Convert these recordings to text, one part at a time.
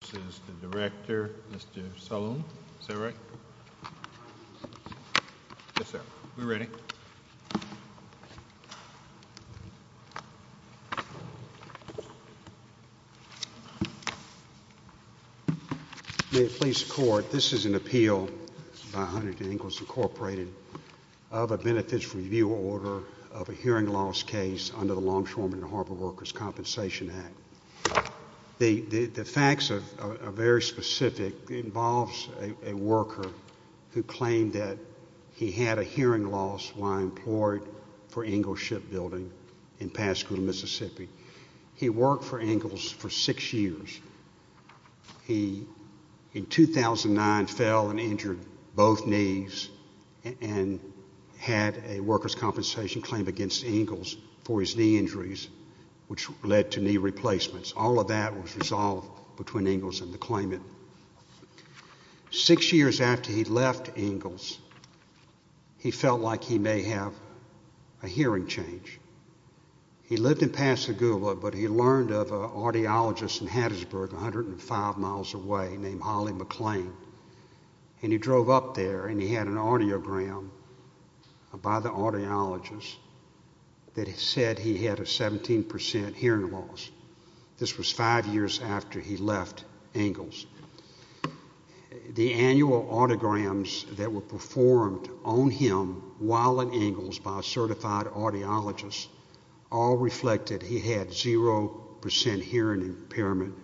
This is the Director, Mr. Saloon. Is that right? Yes, sir. We're ready. May it please the Court, this is an appeal by Huntington Ingalls Incorporated of a benefits review order of a hearing loss case under the Longshoremen and Harbor Workers' Compensation Act. The facts are very specific. It involves a worker who claimed that he had a hearing loss while employed for Ingalls Shipbuilding in Pasco, Mississippi. He worked for Ingalls for six years. He, in 2009, fell and injured both knees and had a workers' compensation claim against Ingalls for his knee injuries, which led to knee replacements. All of that was resolved between Ingalls and the claimant. Six years after he left Ingalls, he felt like he may have a hearing change. He lived in Pascagoula, but he learned of an audiologist in Hattiesburg, 105 miles away, named Holly McClain. And he drove up there, and he had an audiogram by the audiologist that said he had a 17% hearing loss. This was five years after he left Ingalls. The annual autograms that were performed on him while in Ingalls by a certified audiologist all reflected he had 0% hearing impairment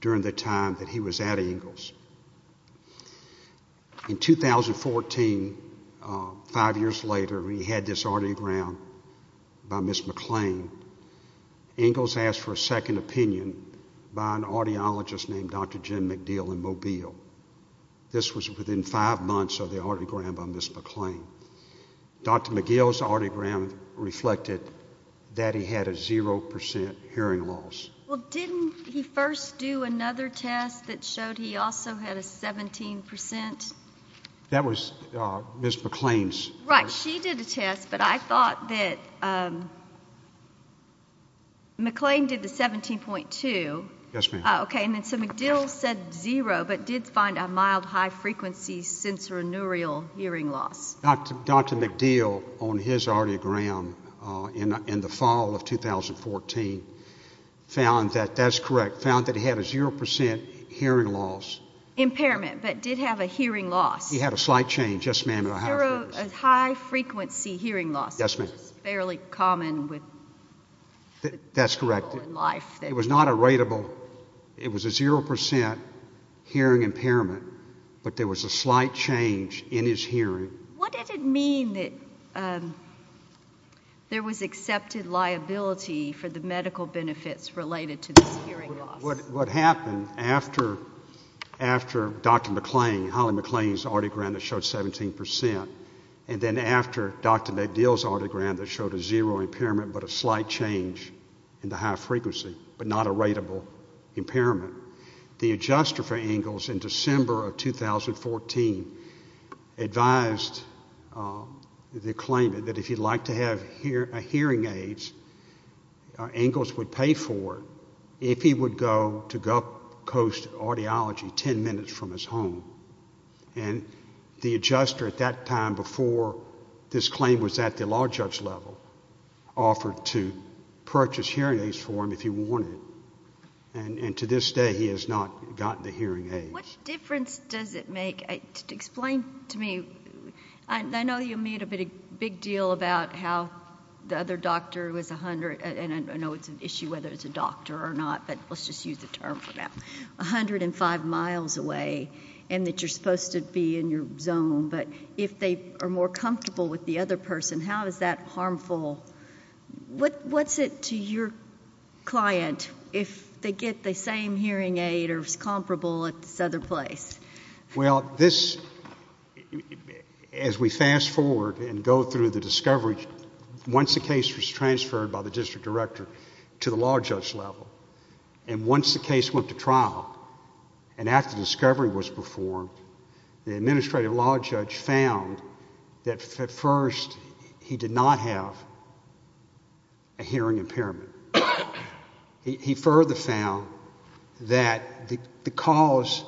during the time that he was at Ingalls. In 2014, five years later, he had this audiogram by Ms. McClain. Ingalls asked for a second opinion by an audiologist named Dr. Jim McDeal in Mobile. This was within five months of the audiogram by Ms. McClain. Dr. McGill's audiogram reflected that he had a 0% hearing loss. Well, didn't he first do another test that showed he also had a 17%? That was Ms. McClain's. Right, she did a test, but I thought that McClain did the 17.2. Yes, ma'am. Okay, and then so McDeal said 0, but did find a mild high-frequency sensorineural hearing loss. Dr. McDeal, on his audiogram in the fall of 2014, found that, that's correct, found that he had a 0% hearing loss. Impairment, but did have a hearing loss. He had a slight change. Yes, ma'am. A high-frequency hearing loss. Yes, ma'am. Which is fairly common with people in life. That's correct. It was not a rateable, it was a 0% hearing impairment, but there was a slight change in his hearing. What did it mean that there was accepted liability for the medical benefits related to this hearing loss? What happened after Dr. McClain, Holly McClain's audiogram that showed 17%, and then after Dr. McDeal's audiogram that showed a 0 impairment but a slight change in the high frequency, but not a rateable impairment, the adjuster for Engels in December of 2014 advised the claimant that if he'd like to have hearing aids, Engels would pay for it if he would go to Gulf Coast Audiology 10 minutes from his home. And the adjuster at that time, before this claim was at the law judge level, offered to purchase hearing aids for him if he wanted. And to this day, he has not gotten the hearing aids. What difference does it make? Explain to me. I know you made a big deal about how the other doctor was 100, and I know it's an issue whether it's a doctor or not, but let's just use the term for now, 105 miles away and that you're supposed to be in your zone, but if they are more comfortable with the other person, how is that harmful? What's it to your client if they get the same hearing aid or is comparable at this other place? Well, this, as we fast forward and go through the discovery, once the case was transferred by the district director to the law judge level, and once the case went to trial and after the discovery was performed, the administrative law judge found that, at first, he did not have a hearing impairment. He further found that the cause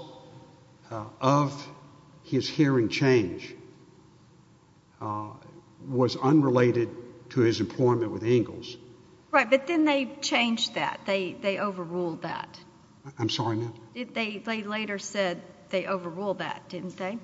of his hearing change was unrelated to his employment with Engels. Right, but then they changed that. They overruled that. I'm sorry, ma'am? They later said they overruled that, didn't they?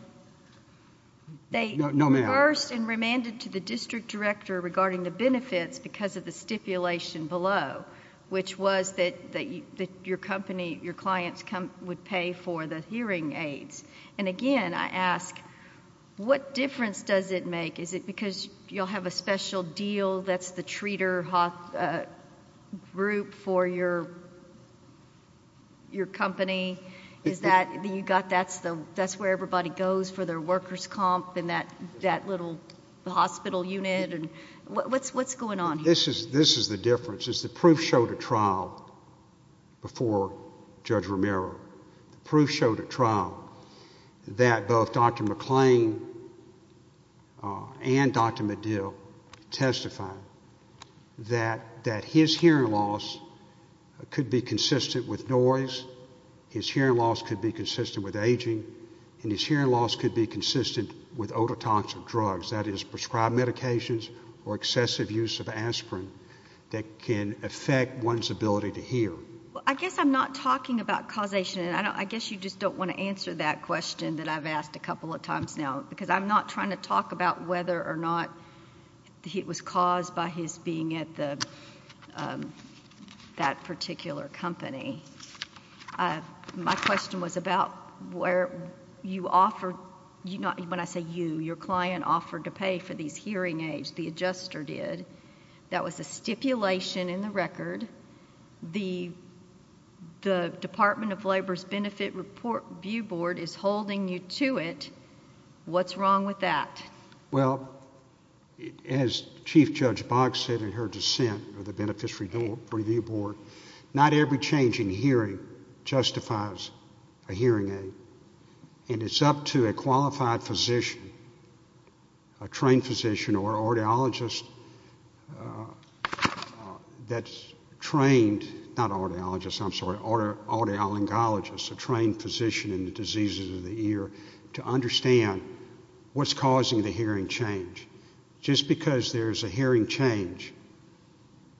No, ma'am. They reversed and remanded to the district director regarding the benefits because of the stipulation below, which was that your clients would pay for the hearing aids. Again, I ask, what difference does it make? Is it because you'll have a special deal that's the treater group for your company? That's where everybody goes for their workers' comp and that little hospital unit? What's going on here? This is the difference. The proof showed at trial before Judge Romero. The proof showed at trial that both Dr. McClain and Dr. Medill testified that his hearing loss could be consistent with noise, his hearing loss could be consistent with aging, and his hearing loss could be consistent with ototoxic drugs, that is prescribed medications or excessive use of aspirin that can affect one's ability to hear. I guess I'm not talking about causation, and I guess you just don't want to answer that question that I've asked a couple of times now because I'm not trying to talk about whether or not it was caused by his being at that particular company. My question was about where you offered, when I say you, your client offered to pay for these hearing aids. The adjuster did. That was a stipulation in the record. The Department of Labor's Benefit Review Board is holding you to it. What's wrong with that? Well, as Chief Judge Boggs said in her dissent of the Benefits Review Board, not every change in hearing justifies a hearing aid, and it's up to a qualified physician, a trained physician or audiologist that's trained, not audiologist, I'm sorry, audiolingologist, a trained physician in the diseases of the ear, to understand what's causing the hearing change. Just because there's a hearing change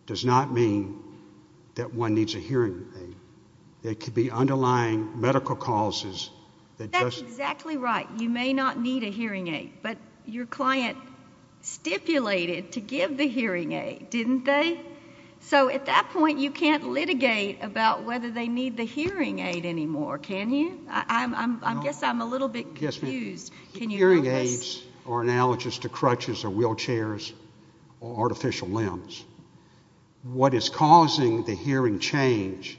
does not mean that one needs a hearing aid. It could be underlying medical causes. That's exactly right. You may not need a hearing aid, but your client stipulated to give the hearing aid, didn't they? So at that point you can't litigate about whether they need the hearing aid anymore, can you? I guess I'm a little bit confused. Hearing aids are analogous to crutches or wheelchairs or artificial limbs. What is causing the hearing change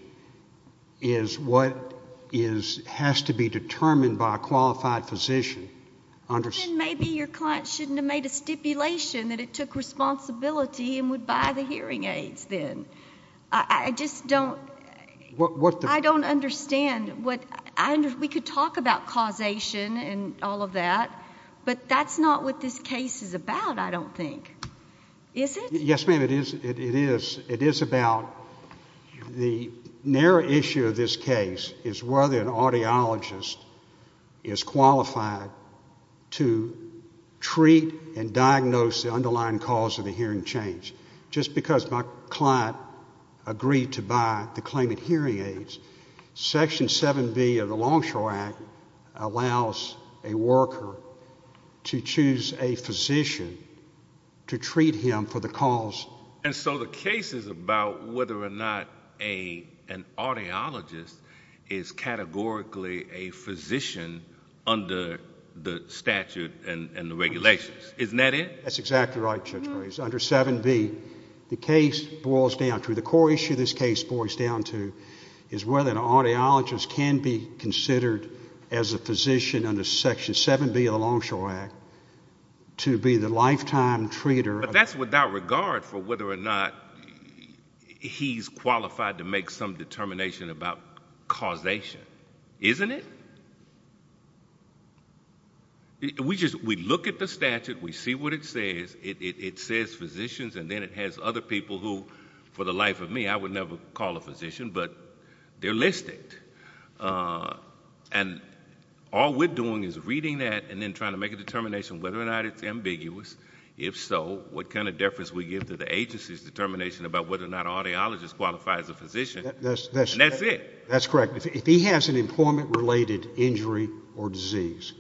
is what has to be determined by a qualified physician. Then maybe your client shouldn't have made a stipulation that it took responsibility and would buy the hearing aids then. I just don't understand what we could talk about causation and all of that, but that's not what this case is about, I don't think, is it? Yes, ma'am, it is. It is about the narrow issue of this case is whether an audiologist is qualified to treat and diagnose the underlying cause of the hearing change. Just because my client agreed to buy the claimant hearing aids, Section 7B of the Longshore Act allows a worker to choose a physician to treat him for the cause. And so the case is about whether or not an audiologist is categorically a physician under the statute and the regulations. Isn't that it? That's exactly right, Judge Grace. The case boils down to, the core issue this case boils down to, is whether an audiologist can be considered as a physician under Section 7B of the Longshore Act to be the lifetime treater. But that's without regard for whether or not he's qualified to make some determination about causation. Isn't it? We look at the statute, we see what it says. It says physicians, and then it has other people who, for the life of me, I would never call a physician, but they're listed. And all we're doing is reading that and then trying to make a determination whether or not it's ambiguous. If so, what kind of deference we give to the agency's determination about whether or not an audiologist qualifies as a physician. And that's it. That's correct. If he has an employment-related injury or disease,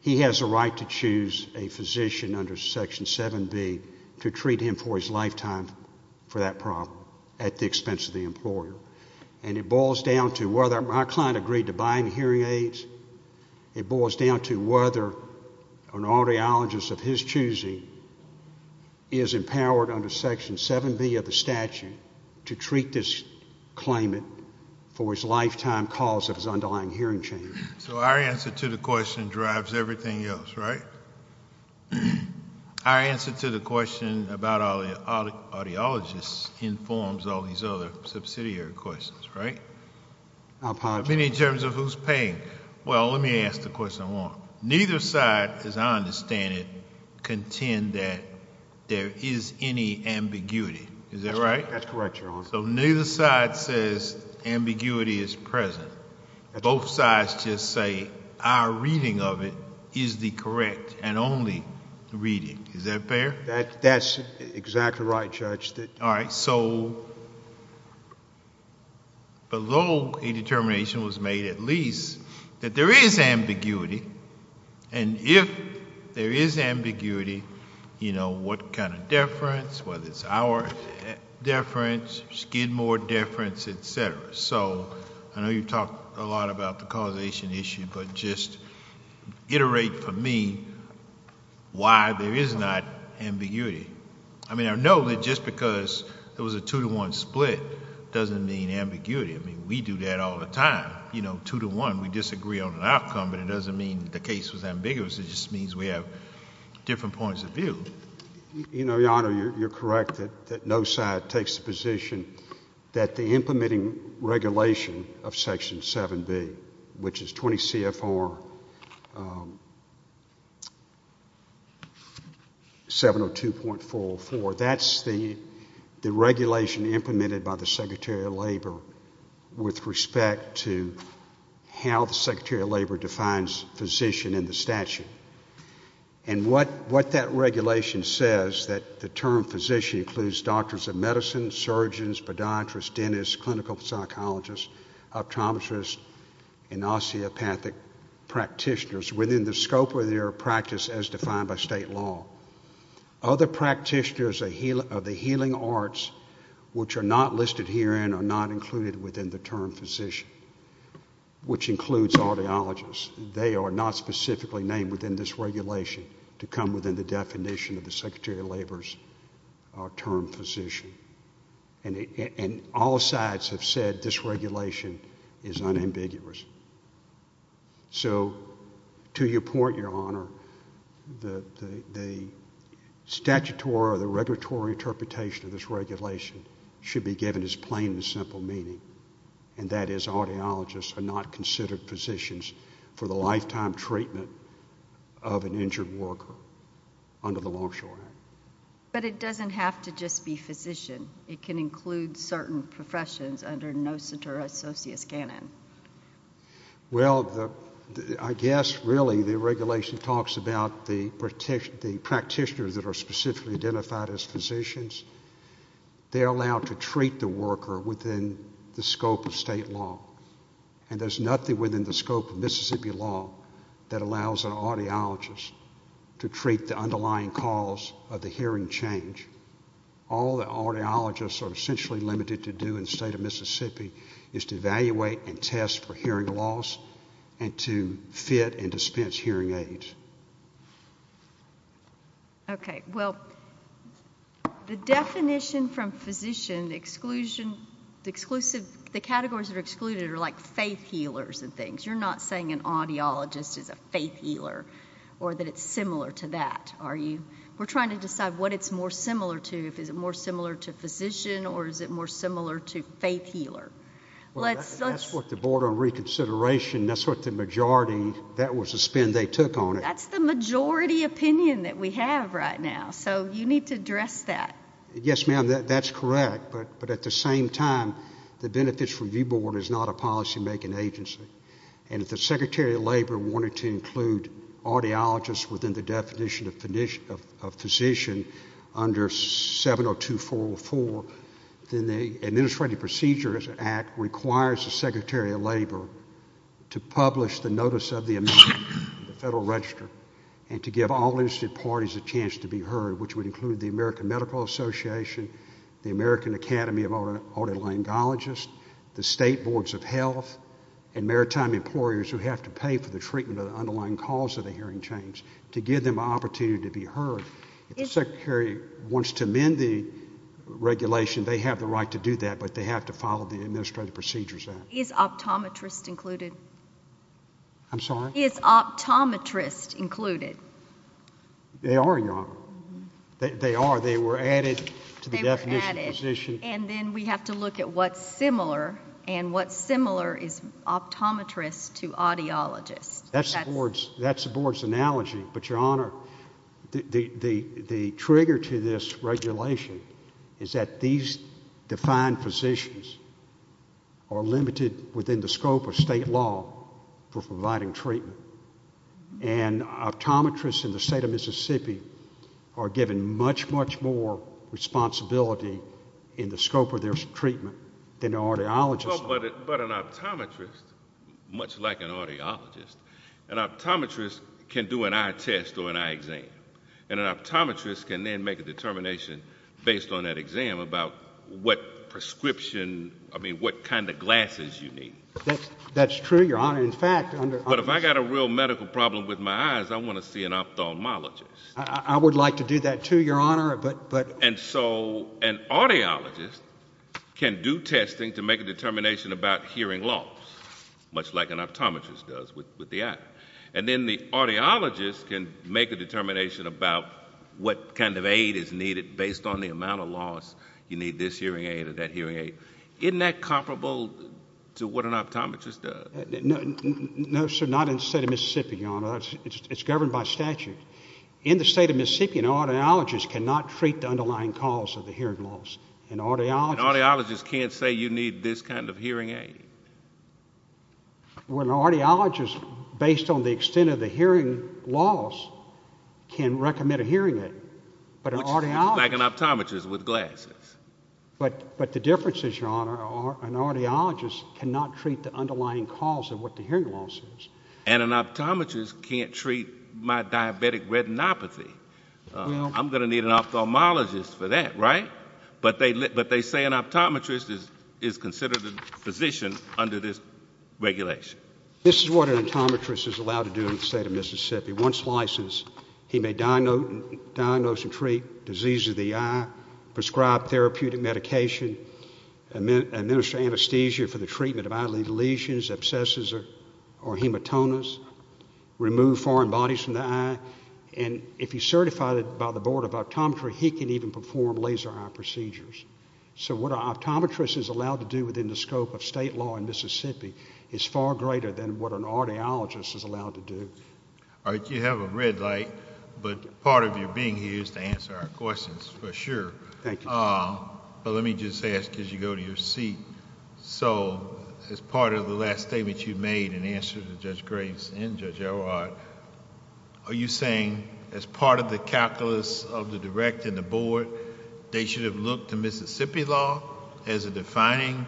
he has a right to choose a physician under Section 7B to treat him for his lifetime for that problem at the expense of the employer. And it boils down to whether my client agreed to buy him hearing aids. It boils down to whether an audiologist of his choosing is empowered under Section 7B of the statute to treat this claimant for his lifetime cause of his underlying hearing change. So our answer to the question drives everything else, right? Our answer to the question about audiologists informs all these other subsidiary questions, right? I apologize. I mean, in terms of who's paying. Well, let me ask the question more. Neither side, as I understand it, contend that there is any ambiguity. Is that right? That's correct, Your Honor. So neither side says ambiguity is present. Both sides just say our reading of it is the correct and only reading. Is that fair? That's exactly right, Judge. All right. So although a determination was made at least that there is ambiguity, and if there is ambiguity, you know, what kind of deference, whether it's our deference, Skidmore deference, et cetera. So I know you've talked a lot about the causation issue, but just iterate for me why there is not ambiguity. I mean, I know that just because there was a two-to-one split doesn't mean ambiguity. I mean, we do that all the time. It's not, you know, two-to-one. We disagree on an outcome, but it doesn't mean the case was ambiguous. It just means we have different points of view. You know, Your Honor, you're correct that no side takes the position that the implementing regulation of Section 7B, which is 20 CFR 702.404, that's the regulation implemented by the Secretary of Labor with respect to how the Secretary of Labor defines physician in the statute. And what that regulation says, that the term physician includes doctors of medicine, surgeons, podiatrists, dentists, clinical psychologists, optometrists, and osteopathic practitioners within the scope of their practice as defined by state law. Other practitioners of the healing arts, which are not listed herein, are not included within the term physician, which includes audiologists. They are not specifically named within this regulation to come within the definition of the Secretary of Labor's term physician. And all sides have said this regulation is unambiguous. So to your point, Your Honor, the statutory or the regulatory interpretation of this regulation should be given its plain and simple meaning, and that is audiologists are not considered physicians for the lifetime treatment of an injured worker under the Longshore Act. But it doesn't have to just be physician. It can include certain professions under NOSINTA or Associus Canon. Well, I guess really the regulation talks about the practitioners that are specifically identified as physicians. They're allowed to treat the worker within the scope of state law. And there's nothing within the scope of Mississippi law that allows an audiologist to treat the underlying cause of the hearing change. All that audiologists are essentially limited to do in the state of Mississippi is to evaluate and test for hearing loss and to fit and dispense hearing aids. Okay. Well, the definition from physician, the categories that are excluded are like faith healers and things. You're not saying an audiologist is a faith healer or that it's similar to that, are you? We're trying to decide what it's more similar to. Is it more similar to physician or is it more similar to faith healer? That's what the Board on Reconsideration, that's what the majority, that was the spin they took on it. That's the majority opinion that we have right now. So you need to address that. Yes, ma'am, that's correct. But at the same time, the Benefits Review Board is not a policymaking agency. And if the Secretary of Labor wanted to include audiologists within the definition of physician under 70244, then the Administrative Procedures Act requires the Secretary of Labor to publish the notice of the amendment in the Federal Register and to give all interested parties a chance to be heard, which would include the American Medical Association, the American Academy of Otolaryngologists, the State Boards of Health, and maritime employers who have to pay for the treatment of the underlying cause of the hearing change, to give them an opportunity to be heard. If the Secretary wants to amend the regulation, they have the right to do that, but they have to follow the Administrative Procedures Act. Is optometrists included? I'm sorry? Is optometrists included? They are, Your Honor. They are. They were added to the definition of physician. They were added. And then we have to look at what's similar, and what's similar is optometrists to audiologists. That's the Board's analogy. But, Your Honor, the trigger to this regulation is that these defined physicians are limited within the scope of state law for providing treatment. And optometrists in the state of Mississippi are given much, much more responsibility in the scope of their treatment than audiologists are. But an optometrist, much like an audiologist, an optometrist can do an eye test or an eye exam, and an optometrist can then make a determination based on that exam about what prescription, I mean, what kind of glasses you need. That's true, Your Honor. But if I've got a real medical problem with my eyes, I want to see an ophthalmologist. I would like to do that too, Your Honor. And so an audiologist can do testing to make a determination about hearing loss, much like an optometrist does with the eye. And then the audiologist can make a determination about what kind of aid is needed based on the amount of loss, you need this hearing aid or that hearing aid. Isn't that comparable to what an optometrist does? No, sir, not in the state of Mississippi, Your Honor. It's governed by statute. In the state of Mississippi, an audiologist cannot treat the underlying cause of the hearing loss. An audiologist can't say you need this kind of hearing aid? Well, an audiologist, based on the extent of the hearing loss, can recommend a hearing aid. Much like an optometrist with glasses. But the difference is, Your Honor, an audiologist cannot treat the underlying cause of what the hearing loss is. And an optometrist can't treat my diabetic retinopathy. I'm going to need an ophthalmologist for that, right? But they say an optometrist is considered a physician under this regulation. This is what an optometrist is allowed to do in the state of Mississippi. Once licensed, he may diagnose and treat disease of the eye, prescribe therapeutic medication, administer anesthesia for the treatment of eyelid lesions, abscesses, or hematomas, remove foreign bodies from the eye, and if he's certified by the Board of Optometry, he can even perform laser eye procedures. So what an optometrist is allowed to do within the scope of state law in Mississippi is far greater than what an audiologist is allowed to do. All right, you have a red light, but part of your being here is to answer our questions, for sure. Thank you. But let me just ask, as you go to your seat, so as part of the last statement you made in answer to Judge Graves and Judge Elrod, are you saying as part of the calculus of the direct and the board, they should have looked to Mississippi law as a defining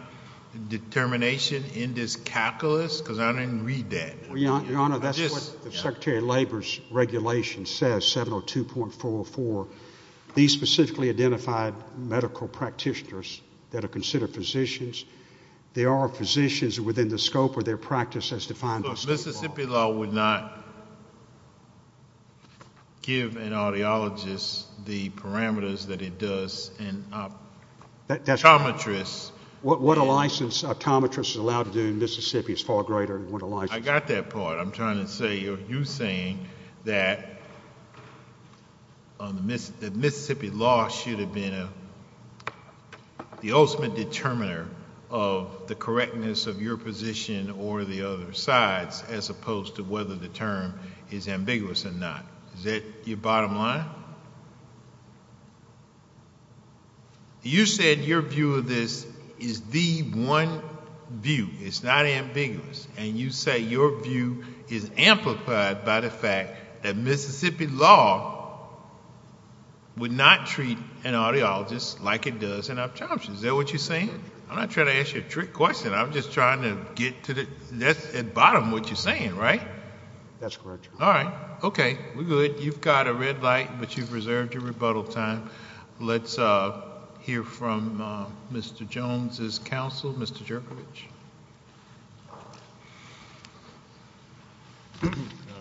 determination in this calculus? Because I didn't read that. Your Honor, that's what the Secretary of Labor's regulation says, 702.404. These specifically identified medical practitioners that are considered physicians, they are physicians within the scope of their practice as defined by state law. But Mississippi law would not give an audiologist the parameters that it does an optometrist. What a licensed optometrist is allowed to do in Mississippi is far greater than what a licensed optometrist is allowed to do. I got that part. I'm trying to say you're saying that Mississippi law should have been the ultimate determiner of the correctness of your position or the other side's as opposed to whether the term is ambiguous or not. Is that your bottom line? You said your view of this is the one view. It's not ambiguous. And you say your view is amplified by the fact that Mississippi law would not treat an audiologist like it does an optometrist. Is that what you're saying? I'm not trying to ask you a trick question. I'm just trying to get to the bottom of what you're saying, right? That's correct, Your Honor. All right. Okay. We're good. You've got a red light, but you've reserved your rebuttal time. Let's hear from Mr. Jones's counsel, Mr. Jerkovich.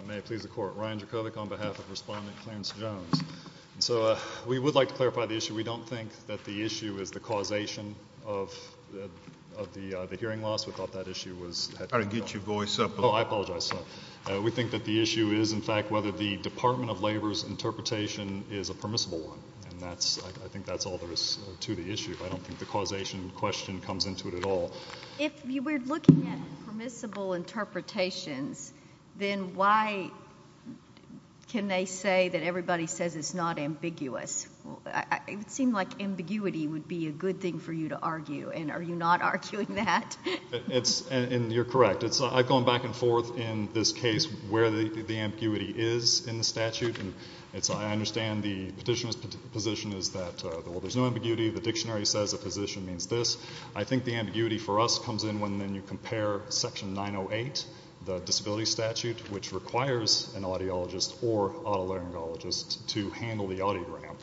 May it please the Court. Ryan Jerkovich on behalf of Respondent Clarence Jones. So we would like to clarify the issue. We don't think that the issue is the causation of the hearing loss. We thought that issue was had to be dealt with. I didn't get your voice up. Oh, I apologize. We think that the issue is, in fact, whether the Department of Labor's interpretation is a permissible one, and I think that's all there is to the issue. I don't think the causation question comes into it at all. If we're looking at permissible interpretations, then why can they say that everybody says it's not ambiguous? It would seem like ambiguity would be a good thing for you to argue, and are you not arguing that? You're correct. I've gone back and forth in this case where the ambiguity is in the statute, and I understand the petitioner's position is that, well, there's no ambiguity. The dictionary says the position means this. I think the ambiguity for us comes in when you compare Section 908, the disability statute, which requires an audiologist or otolaryngologist to handle the audiogram.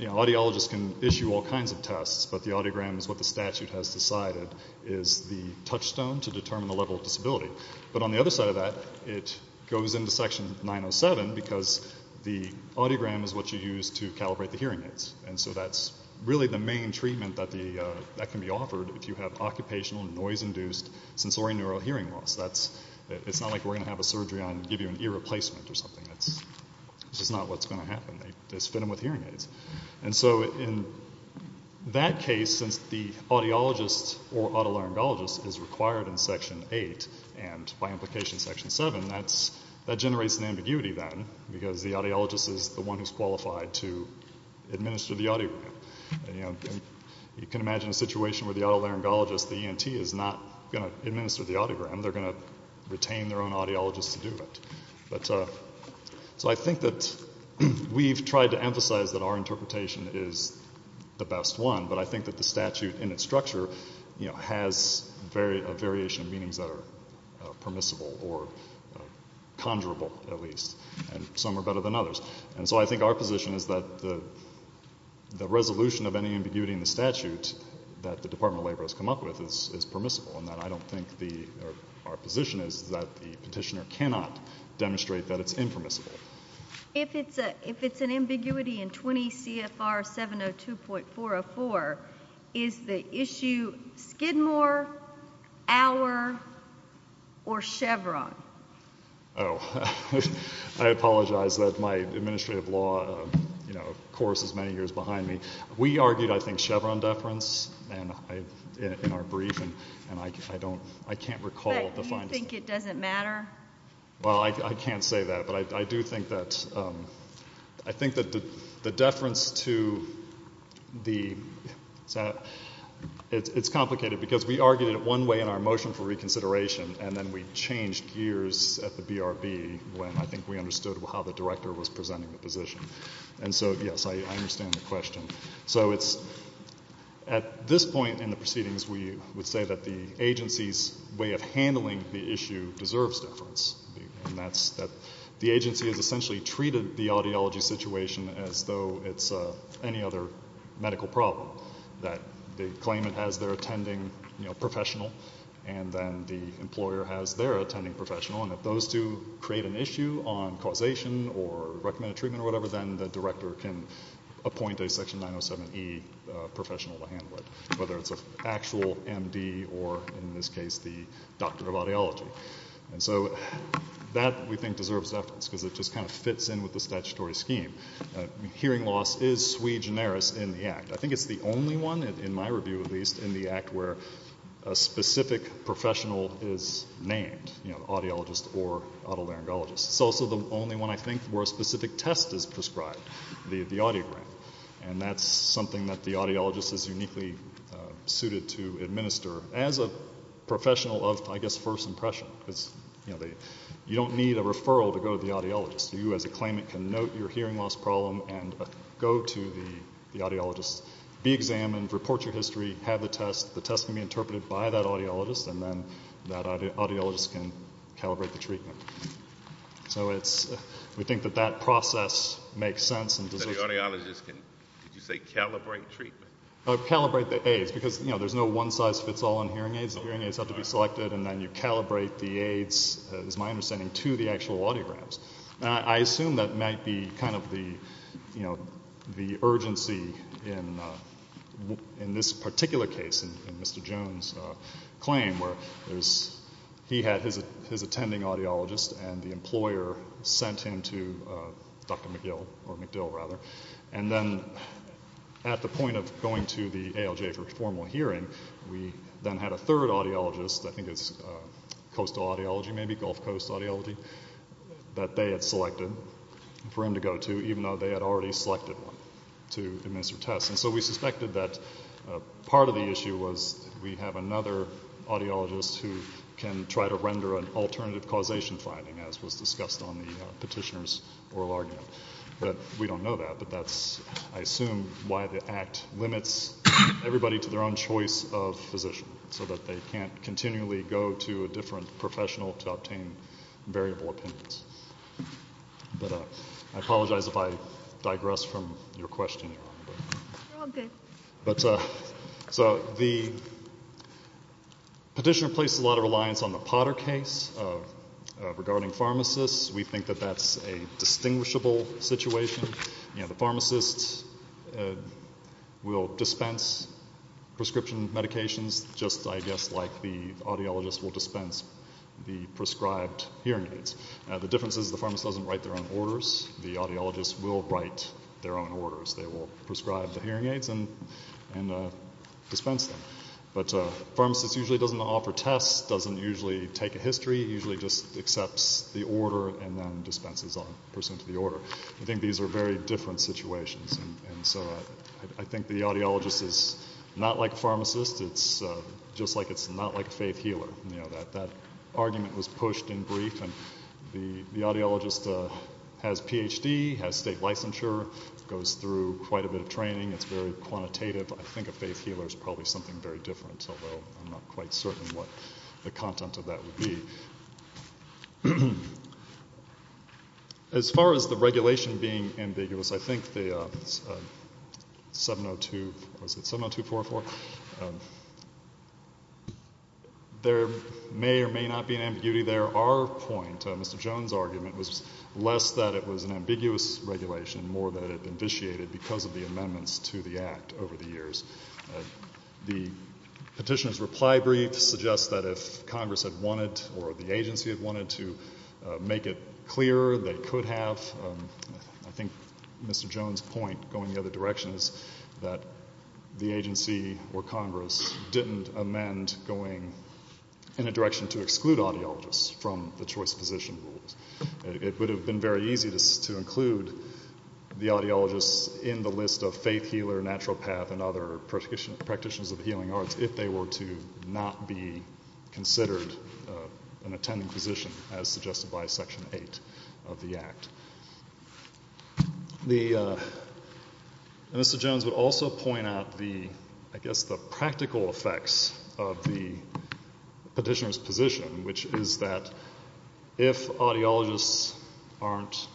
Audiologists can issue all kinds of tests, but the audiogram is what the statute has decided, is the touchstone to determine the level of disability. But on the other side of that, it goes into Section 907 because the audiogram is what you use to calibrate the hearing aids, and so that's really the main treatment that can be offered if you have occupational noise-induced sensorineural hearing loss. It's not like we're going to have a surgery on you and give you an ear replacement or something. That's just not what's going to happen. They just fit them with hearing aids. And so in that case, since the audiologist or otolaryngologist is required in Section 8 and by implication Section 7, that generates an ambiguity then because the audiologist is the one who's qualified to administer the audiogram. You can imagine a situation where the otolaryngologist, the ENT, is not going to administer the audiogram. They're going to retain their own audiologist to do it. So I think that we've tried to emphasize that our interpretation is the best one, but I think that the statute in its structure has a variation of meanings that are permissible or conjurable at least, and some are better than others. And so I think our position is that the resolution of any ambiguity in the statute that the Department of Labor has come up with is permissible and that I don't think our position is that the petitioner cannot demonstrate that it's impermissible. If it's an ambiguity in 20 CFR 702.404, is the issue Skidmore, Auer, or Chevron? Oh, I apologize. My administrative law course is many years behind me. We argued, I think, Chevron deference in our briefing, and I can't recall the final statement. But you think it doesn't matter? Well, I can't say that, but I do think that the deference to the ‑‑ it's complicated because we argued it one way in our motion for reconsideration, and then we changed gears at the BRB when I think we understood how the director was presenting the position. And so, yes, I understand the question. So it's at this point in the proceedings, we would say that the agency's way of handling the issue deserves deference, and that's that the agency has essentially treated the audiology situation as though it's any other medical problem, that the claimant has their attending professional and then the employer has their attending professional, and if those two create an issue on causation or recommended treatment or whatever, then the director can appoint a section 907E professional to handle it, whether it's an actual MD or, in this case, the doctor of audiology. And so that, we think, deserves deference because it just kind of fits in with the statutory scheme. Hearing loss is sui generis in the act. I think it's the only one, in my review at least, in the act where a specific professional is named, you know, audiologist or otolaryngologist. It's also the only one, I think, where a specific test is prescribed, the audiogram. And that's something that the audiologist is uniquely suited to administer as a professional of, I guess, first impression because, you know, you don't need a referral to go to the audiologist. You, as a claimant, can note your hearing loss problem and go to the audiologist, be examined, report your history, have the test. The test can be interpreted by that audiologist, and then that audiologist can calibrate the treatment. So we think that that process makes sense and deserves deference. So the audiologist can, did you say calibrate treatment? Calibrate the aids because, you know, there's no one-size-fits-all on hearing aids. The hearing aids have to be selected, and then you calibrate the aids, is my understanding, to the actual audiograms. I assume that might be kind of the urgency in this particular case, in Mr. Jones' claim, where he had his attending audiologist and the employer sent him to Dr. McGill or McDill, rather. And then at the point of going to the ALJ for a formal hearing, we then had a third audiologist, I think it's Coastal Audiology maybe, Gulf Coast Audiology, that they had selected for him to go to, even though they had already selected one to administer tests. And so we suspected that part of the issue was we have another audiologist who can try to render an alternative causation finding, as was discussed on the petitioner's oral argument. We don't know that, but that's, I assume, why the Act limits everybody to their own choice of physician, so that they can't continually go to a different professional to obtain variable opinions. But I apologize if I digress from your question, Your Honor. You're all good. So the petitioner placed a lot of reliance on the Potter case regarding pharmacists. We think that that's a distinguishable situation. The pharmacists will dispense prescription medications, just, I guess, like the audiologist will dispense the prescribed hearing aids. The difference is the pharmacist doesn't write their own orders. The audiologist will write their own orders. They will prescribe the hearing aids and dispense them. But a pharmacist usually doesn't offer tests, doesn't usually take a history, usually just accepts the order and then dispenses on, pursuant to the order. I think these are very different situations. And so I think the audiologist is not like a pharmacist. It's just like it's not like a faith healer. That argument was pushed in brief. And the audiologist has a Ph.D., has state licensure, goes through quite a bit of training. It's very quantitative. I think a faith healer is probably something very different, although I'm not quite certain what the content of that would be. As far as the regulation being ambiguous, I think the 70244, there may or may not be an ambiguity there. Our point, Mr. Jones' argument, was less that it was an ambiguous regulation, more that it vitiated because of the amendments to the Act over the years. The petitioner's reply brief suggests that if Congress had wanted or the agency had wanted to make it clearer, they could have. I think Mr. Jones' point, going the other direction, is that the agency or Congress didn't amend going in a direction to exclude audiologists from the choice of physician rules. It would have been very easy to include the audiologists in the list of faith healer, naturopath, and other practitioners of the healing arts if they were to not be considered an attending physician, as suggested by Section 8 of the Act. Mr. Jones would also point out, I guess, the practical effects of the petitioner's position, which is that if audiologists aren't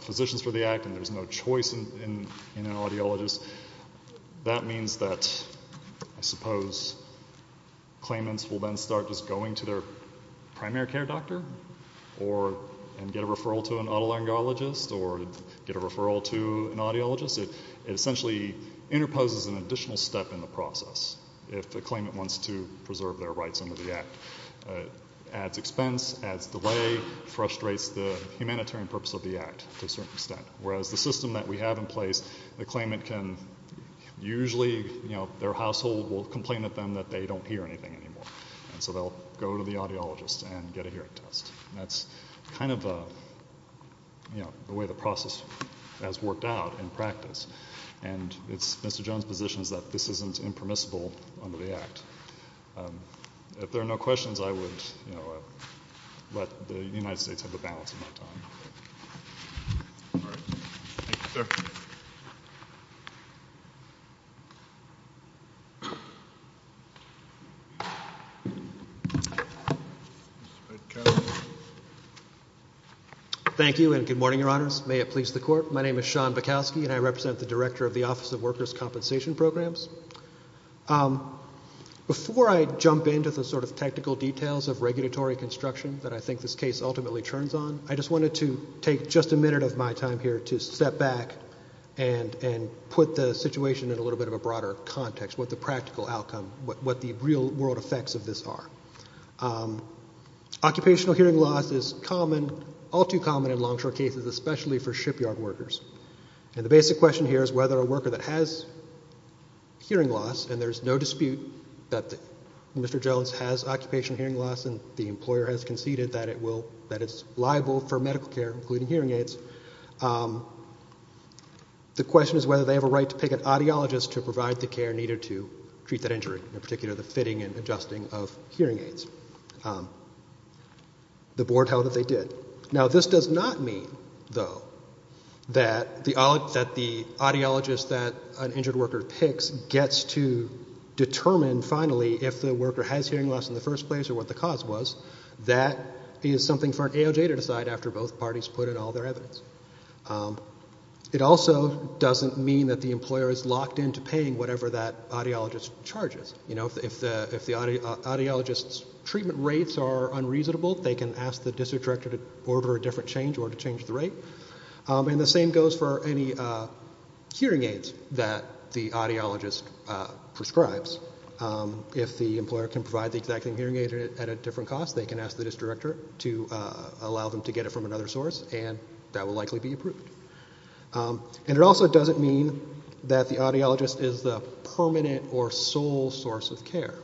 physicians for the Act and there's no choice in an audiologist, that means that, I suppose, claimants will then start just going to their primary care doctor and get a referral to an otolaryngologist or get a referral to an audiologist. It essentially interposes an additional step in the process if the claimant wants to preserve their rights under the Act. It adds expense, adds delay, frustrates the humanitarian purpose of the Act to a certain extent, whereas the system that we have in place, the claimant can usually, their household will complain to them that they don't hear anything anymore, and so they'll go to the audiologist and get a hearing test. That's kind of the way the process has worked out in practice, and Mr. Jones' position is that this isn't impermissible under the Act. If there are no questions, I would let the United States have the balance of my time. All right. Thank you, sir. Thank you, and good morning, Your Honors. May it please the Court. My name is Sean Bukowski, and I represent the Director of the Office of Workers' Compensation Programs. Before I jump into the sort of technical details of regulatory construction that I think this case ultimately turns on, I just wanted to take just a minute of my time here to step back and put the situation in a little bit of a broader context, what the practical outcome, what the real-world effects of this are. Occupational hearing loss is all too common in longshore cases, especially for shipyard workers, and the basic question here is whether a worker that has hearing loss, and there's no dispute that Mr. Jones has occupational hearing loss and the employer has conceded that it's liable for medical care, including hearing aids, the question is whether they have a right to pick an audiologist to provide the care needed to treat that injury, in particular the fitting and adjusting of hearing aids. The board held that they did. Now, this does not mean, though, that the audiologist that an injured worker picks gets to determine, finally, if the worker has hearing loss in the first place or what the cause was. That is something for an AOJ to decide after both parties put in all their evidence. It also doesn't mean that the employer is locked in to paying whatever that audiologist charges. If the audiologist's treatment rates are unreasonable, they can ask the district director to order a different change or to change the rate, and the same goes for any hearing aids that the audiologist prescribes. If the employer can provide the exact same hearing aid at a different cost, they can ask the district director to allow them to get it from another source, and that will likely be approved. And it also doesn't mean that the audiologist is the permanent or sole source of care.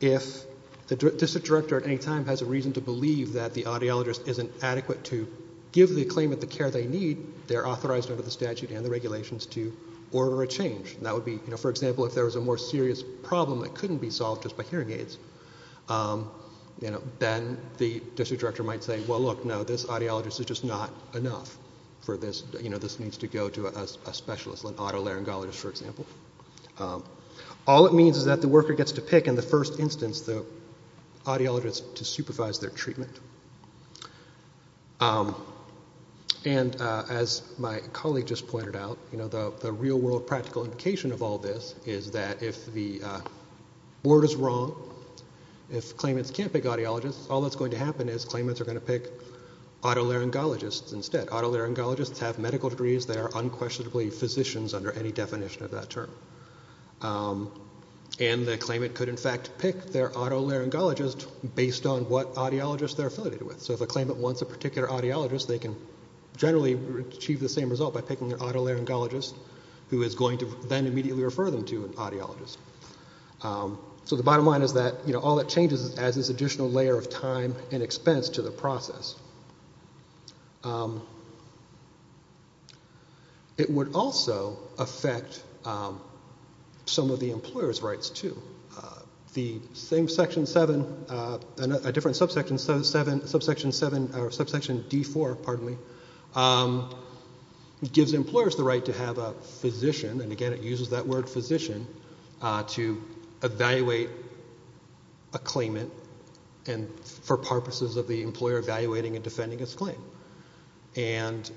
If the district director at any time has a reason to believe that the audiologist isn't adequate to give the claimant the care they need, they're authorized under the statute and the regulations to order a change. That would be, for example, if there was a more serious problem that couldn't be solved just by hearing aids, then the district director might say, well, look, no, this audiologist is just not enough for this. This needs to go to a specialist, an otolaryngologist, for example. All it means is that the worker gets to pick, in the first instance, the audiologist to supervise their treatment. And as my colleague just pointed out, the real-world practical implication of all this is that if the word is wrong, if claimants can't pick audiologists, all that's going to happen is claimants are going to pick otolaryngologists instead. Otolaryngologists have medical degrees. They are unquestionably physicians under any definition of that term. And the claimant could, in fact, pick their otolaryngologist based on what audiologist they're affiliated with. So if a claimant wants a particular audiologist, they can generally achieve the same result by picking an otolaryngologist who is going to then immediately refer them to an audiologist. So the bottom line is that all that changes is it adds this additional layer of time and expense to the process. It would also affect some of the employer's rights, too. The same Section 7, a different subsection D4, pardon me, gives employers the right to have a physician, and again it uses that word physician, to evaluate a claimant for purposes of the employer evaluating and defending its claim. And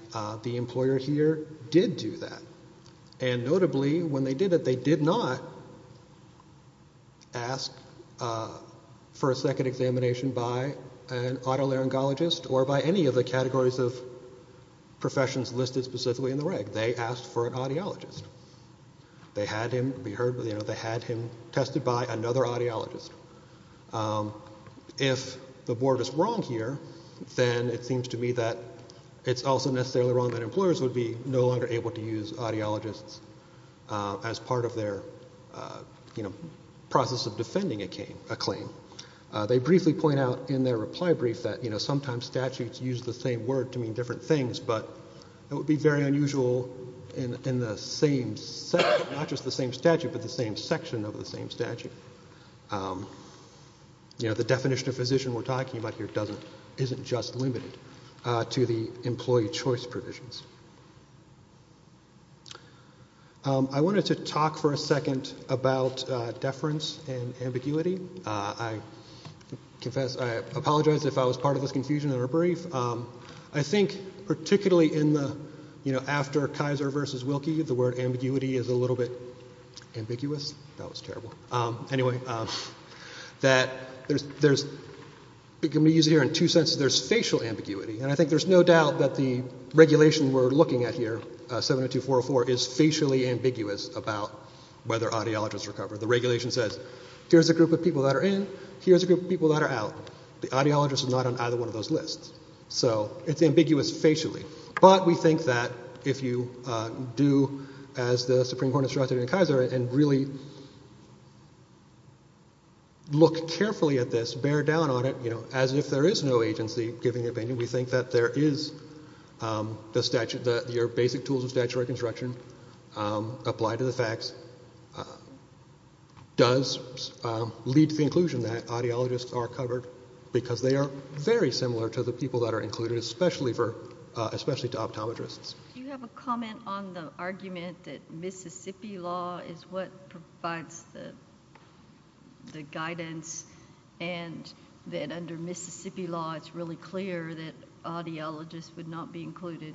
the employer here did do that. And notably, when they did it, they did not ask for a second examination by an otolaryngologist or by any of the categories of professions listed specifically in the reg. They asked for an audiologist. They had him tested by another audiologist. If the board is wrong here, then it seems to me that it's also necessarily wrong that employers would be no longer able to use audiologists as part of their process of defending a claim. They briefly point out in their reply brief that sometimes statutes use the same word to mean different things, but it would be very unusual in not just the same statute but the same section of the same statute. The definition of physician we're talking about here isn't just limited to the employee choice provisions. I wanted to talk for a second about deference and ambiguity. I apologize if I was part of this confusion in our brief. I think particularly after Kaiser v. Wilkie, the word ambiguity is a little bit ambiguous. That was terrible. Anyway, it can be used here in two senses. There's facial ambiguity, and I think there's no doubt that the regulation we're looking at here, 702.404, is facially ambiguous about whether audiologists are covered. The regulation says, here's a group of people that are in, here's a group of people that are out. The audiologist is not on either one of those lists. So it's ambiguous facially. But we think that if you do, as the Supreme Court instructed in Kaiser, and really look carefully at this, bear down on it, as if there is no agency giving an opinion, we think that there are basic tools of statutory construction applied to the facts, does lead to the conclusion that audiologists are covered because they are very similar to the people that are included, especially to optometrists. Do you have a comment on the argument that Mississippi law is what provides the guidance and that under Mississippi law it's really clear that audiologists would not be included?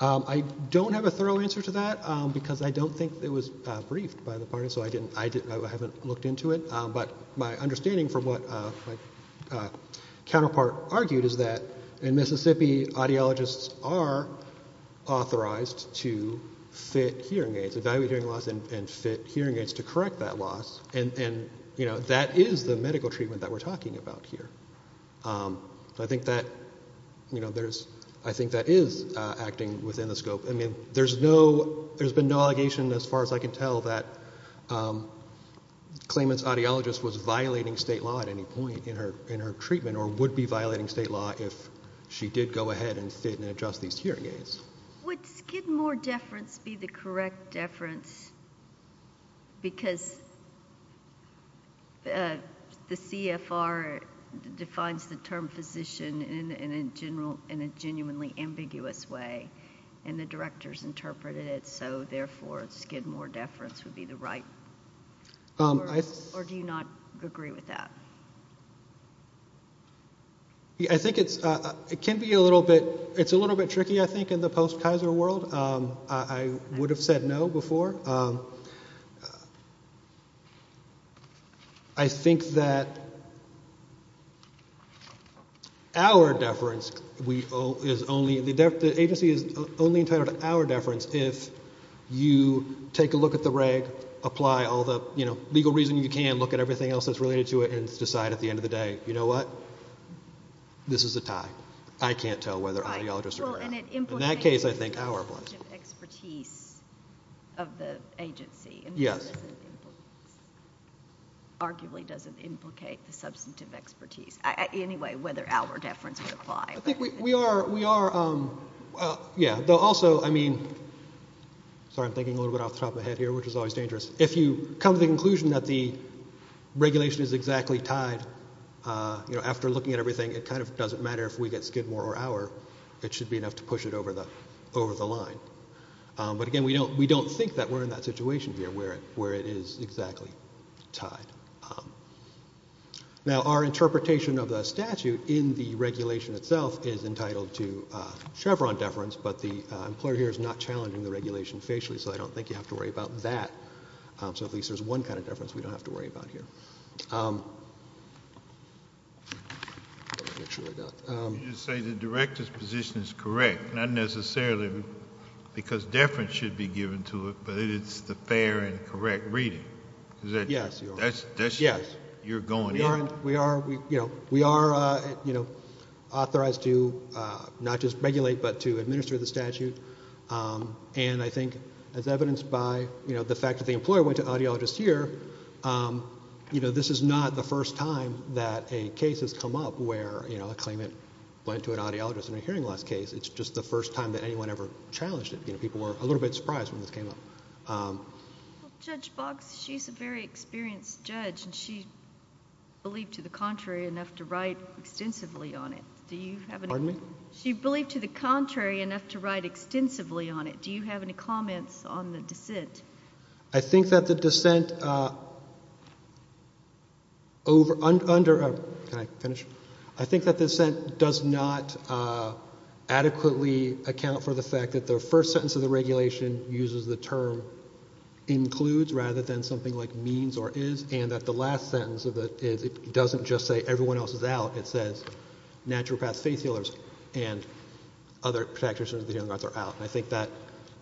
I don't have a thorough answer to that because I don't think it was briefed by the parties, so I haven't looked into it. But my understanding from what my counterpart argued is that in Mississippi, audiologists are authorized to fit hearing aids, evaluate hearing loss, and fit hearing aids to correct that loss. And that is the medical treatment that we're talking about here. I think that is acting within the scope. There's been no allegation, as far as I can tell, that claimant's audiologist was violating state law at any point in her treatment or would be violating state law if she did go ahead and fit and adjust these hearing aids. Would Skidmore deference be the correct deference because the CFR defines the term physician in a genuinely ambiguous way, and the directors interpreted it, so therefore Skidmore deference would be the right? Or do you not agree with that? I think it's a little bit tricky, I think, in the post-Kaiser world. I would have said no before. I think that our deference, the agency is only entitled to our deference if you take a look at the reg, apply all the legal reasoning you can, look at everything else that's related to it, and decide at the end of the day, you know what, this is a tie. I can't tell whether audiologists are correct. In that case, I think our deference. Yes. Arguably doesn't implicate the substantive expertise. Anyway, whether our deference would apply. I think we are, yeah. Also, I mean, sorry, I'm thinking a little bit off the top of my head here, which is always dangerous. If you come to the conclusion that the regulation is exactly tied, after looking at everything, it kind of doesn't matter if we get Skidmore or our, it should be enough to push it over the line. But, again, we don't think that we're in that situation here where it is exactly tied. Now, our interpretation of the statute in the regulation itself is entitled to Chevron deference, but the employer here is not challenging the regulation facially, so I don't think you have to worry about that. So at least there's one kind of deference we don't have to worry about here. You just say the director's position is correct, not necessarily because deference should be given to it, but it's the fair and correct reading. Yes. You're going in. We are authorized to not just regulate, but to administer the statute, and I think as evidenced by the fact that the employer went to audiologists this year, this is not the first time that a case has come up where a claimant went to an audiologist in a hearing loss case. It's just the first time that anyone ever challenged it. People were a little bit surprised when this came up. Judge Boggs, she's a very experienced judge, and she believed to the contrary enough to write extensively on it. Pardon me? She believed to the contrary enough to write extensively on it. Do you have any comments on the dissent? I think that the dissent does not adequately account for the fact that the first sentence of the regulation uses the term includes rather than something like means or is, and that the last sentence of it doesn't just say everyone else is out. It says naturopaths, faith healers, and other practitioners of the healing arts are out. I think that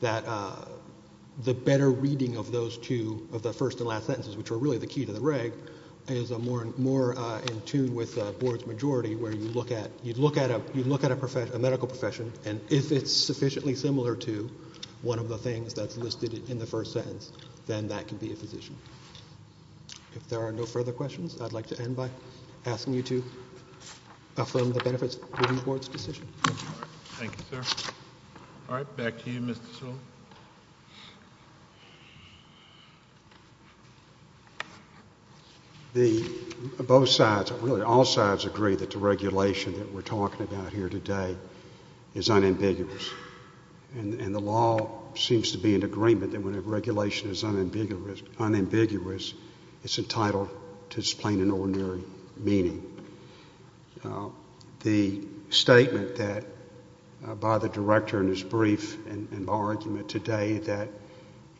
the better reading of those two, of the first and last sentences, which are really the key to the reg, is more in tune with the board's majority where you look at a medical profession, and if it's sufficiently similar to one of the things that's listed in the first sentence, then that can be a physician. If there are no further questions, I'd like to end by asking you to affirm the benefits of the board's decision. Thank you, sir. All right. Back to you, Mr. Sewell. Both sides, really all sides agree that the regulation that we're talking about here today is unambiguous, and the law seems to be in agreement that when a regulation is unambiguous, it's entitled to its plain and ordinary meaning. The statement that, by the director in his brief and our argument today, that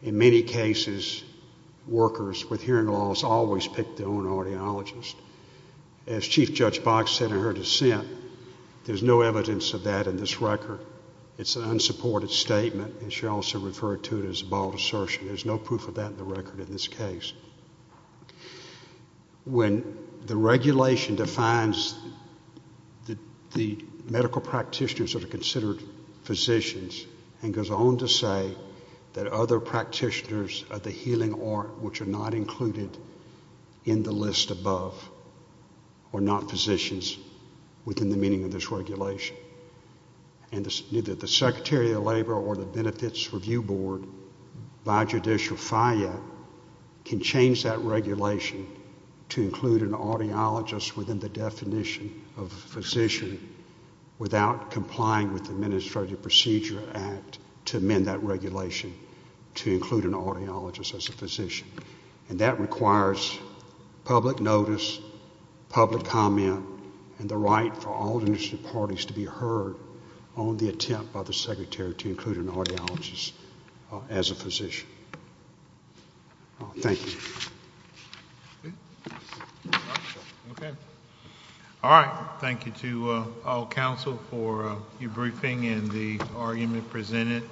in many cases workers with hearing loss always pick their own audiologist, as Chief Judge Box said in her dissent, there's no evidence of that in this record. It's an unsupported statement, and she also referred to it as a bald assertion. There's no proof of that in the record in this case. When the regulation defines that the medical practitioners are considered physicians and goes on to say that other practitioners of the healing art, which are not included in the list above, are not physicians within the meaning of this regulation, and neither the Secretary of Labor or the Benefits Review Board, by judicial fire, can change that regulation to include an audiologist within the definition of physician without complying with the Administrative Procedure Act to amend that regulation to include an audiologist as a physician. And that requires public notice, public comment, and the right for all administrative parties to be heard on the attempt by the Secretary to include an audiologist as a physician. Thank you. All right. Thank you to all counsel for your briefing and the argument presented.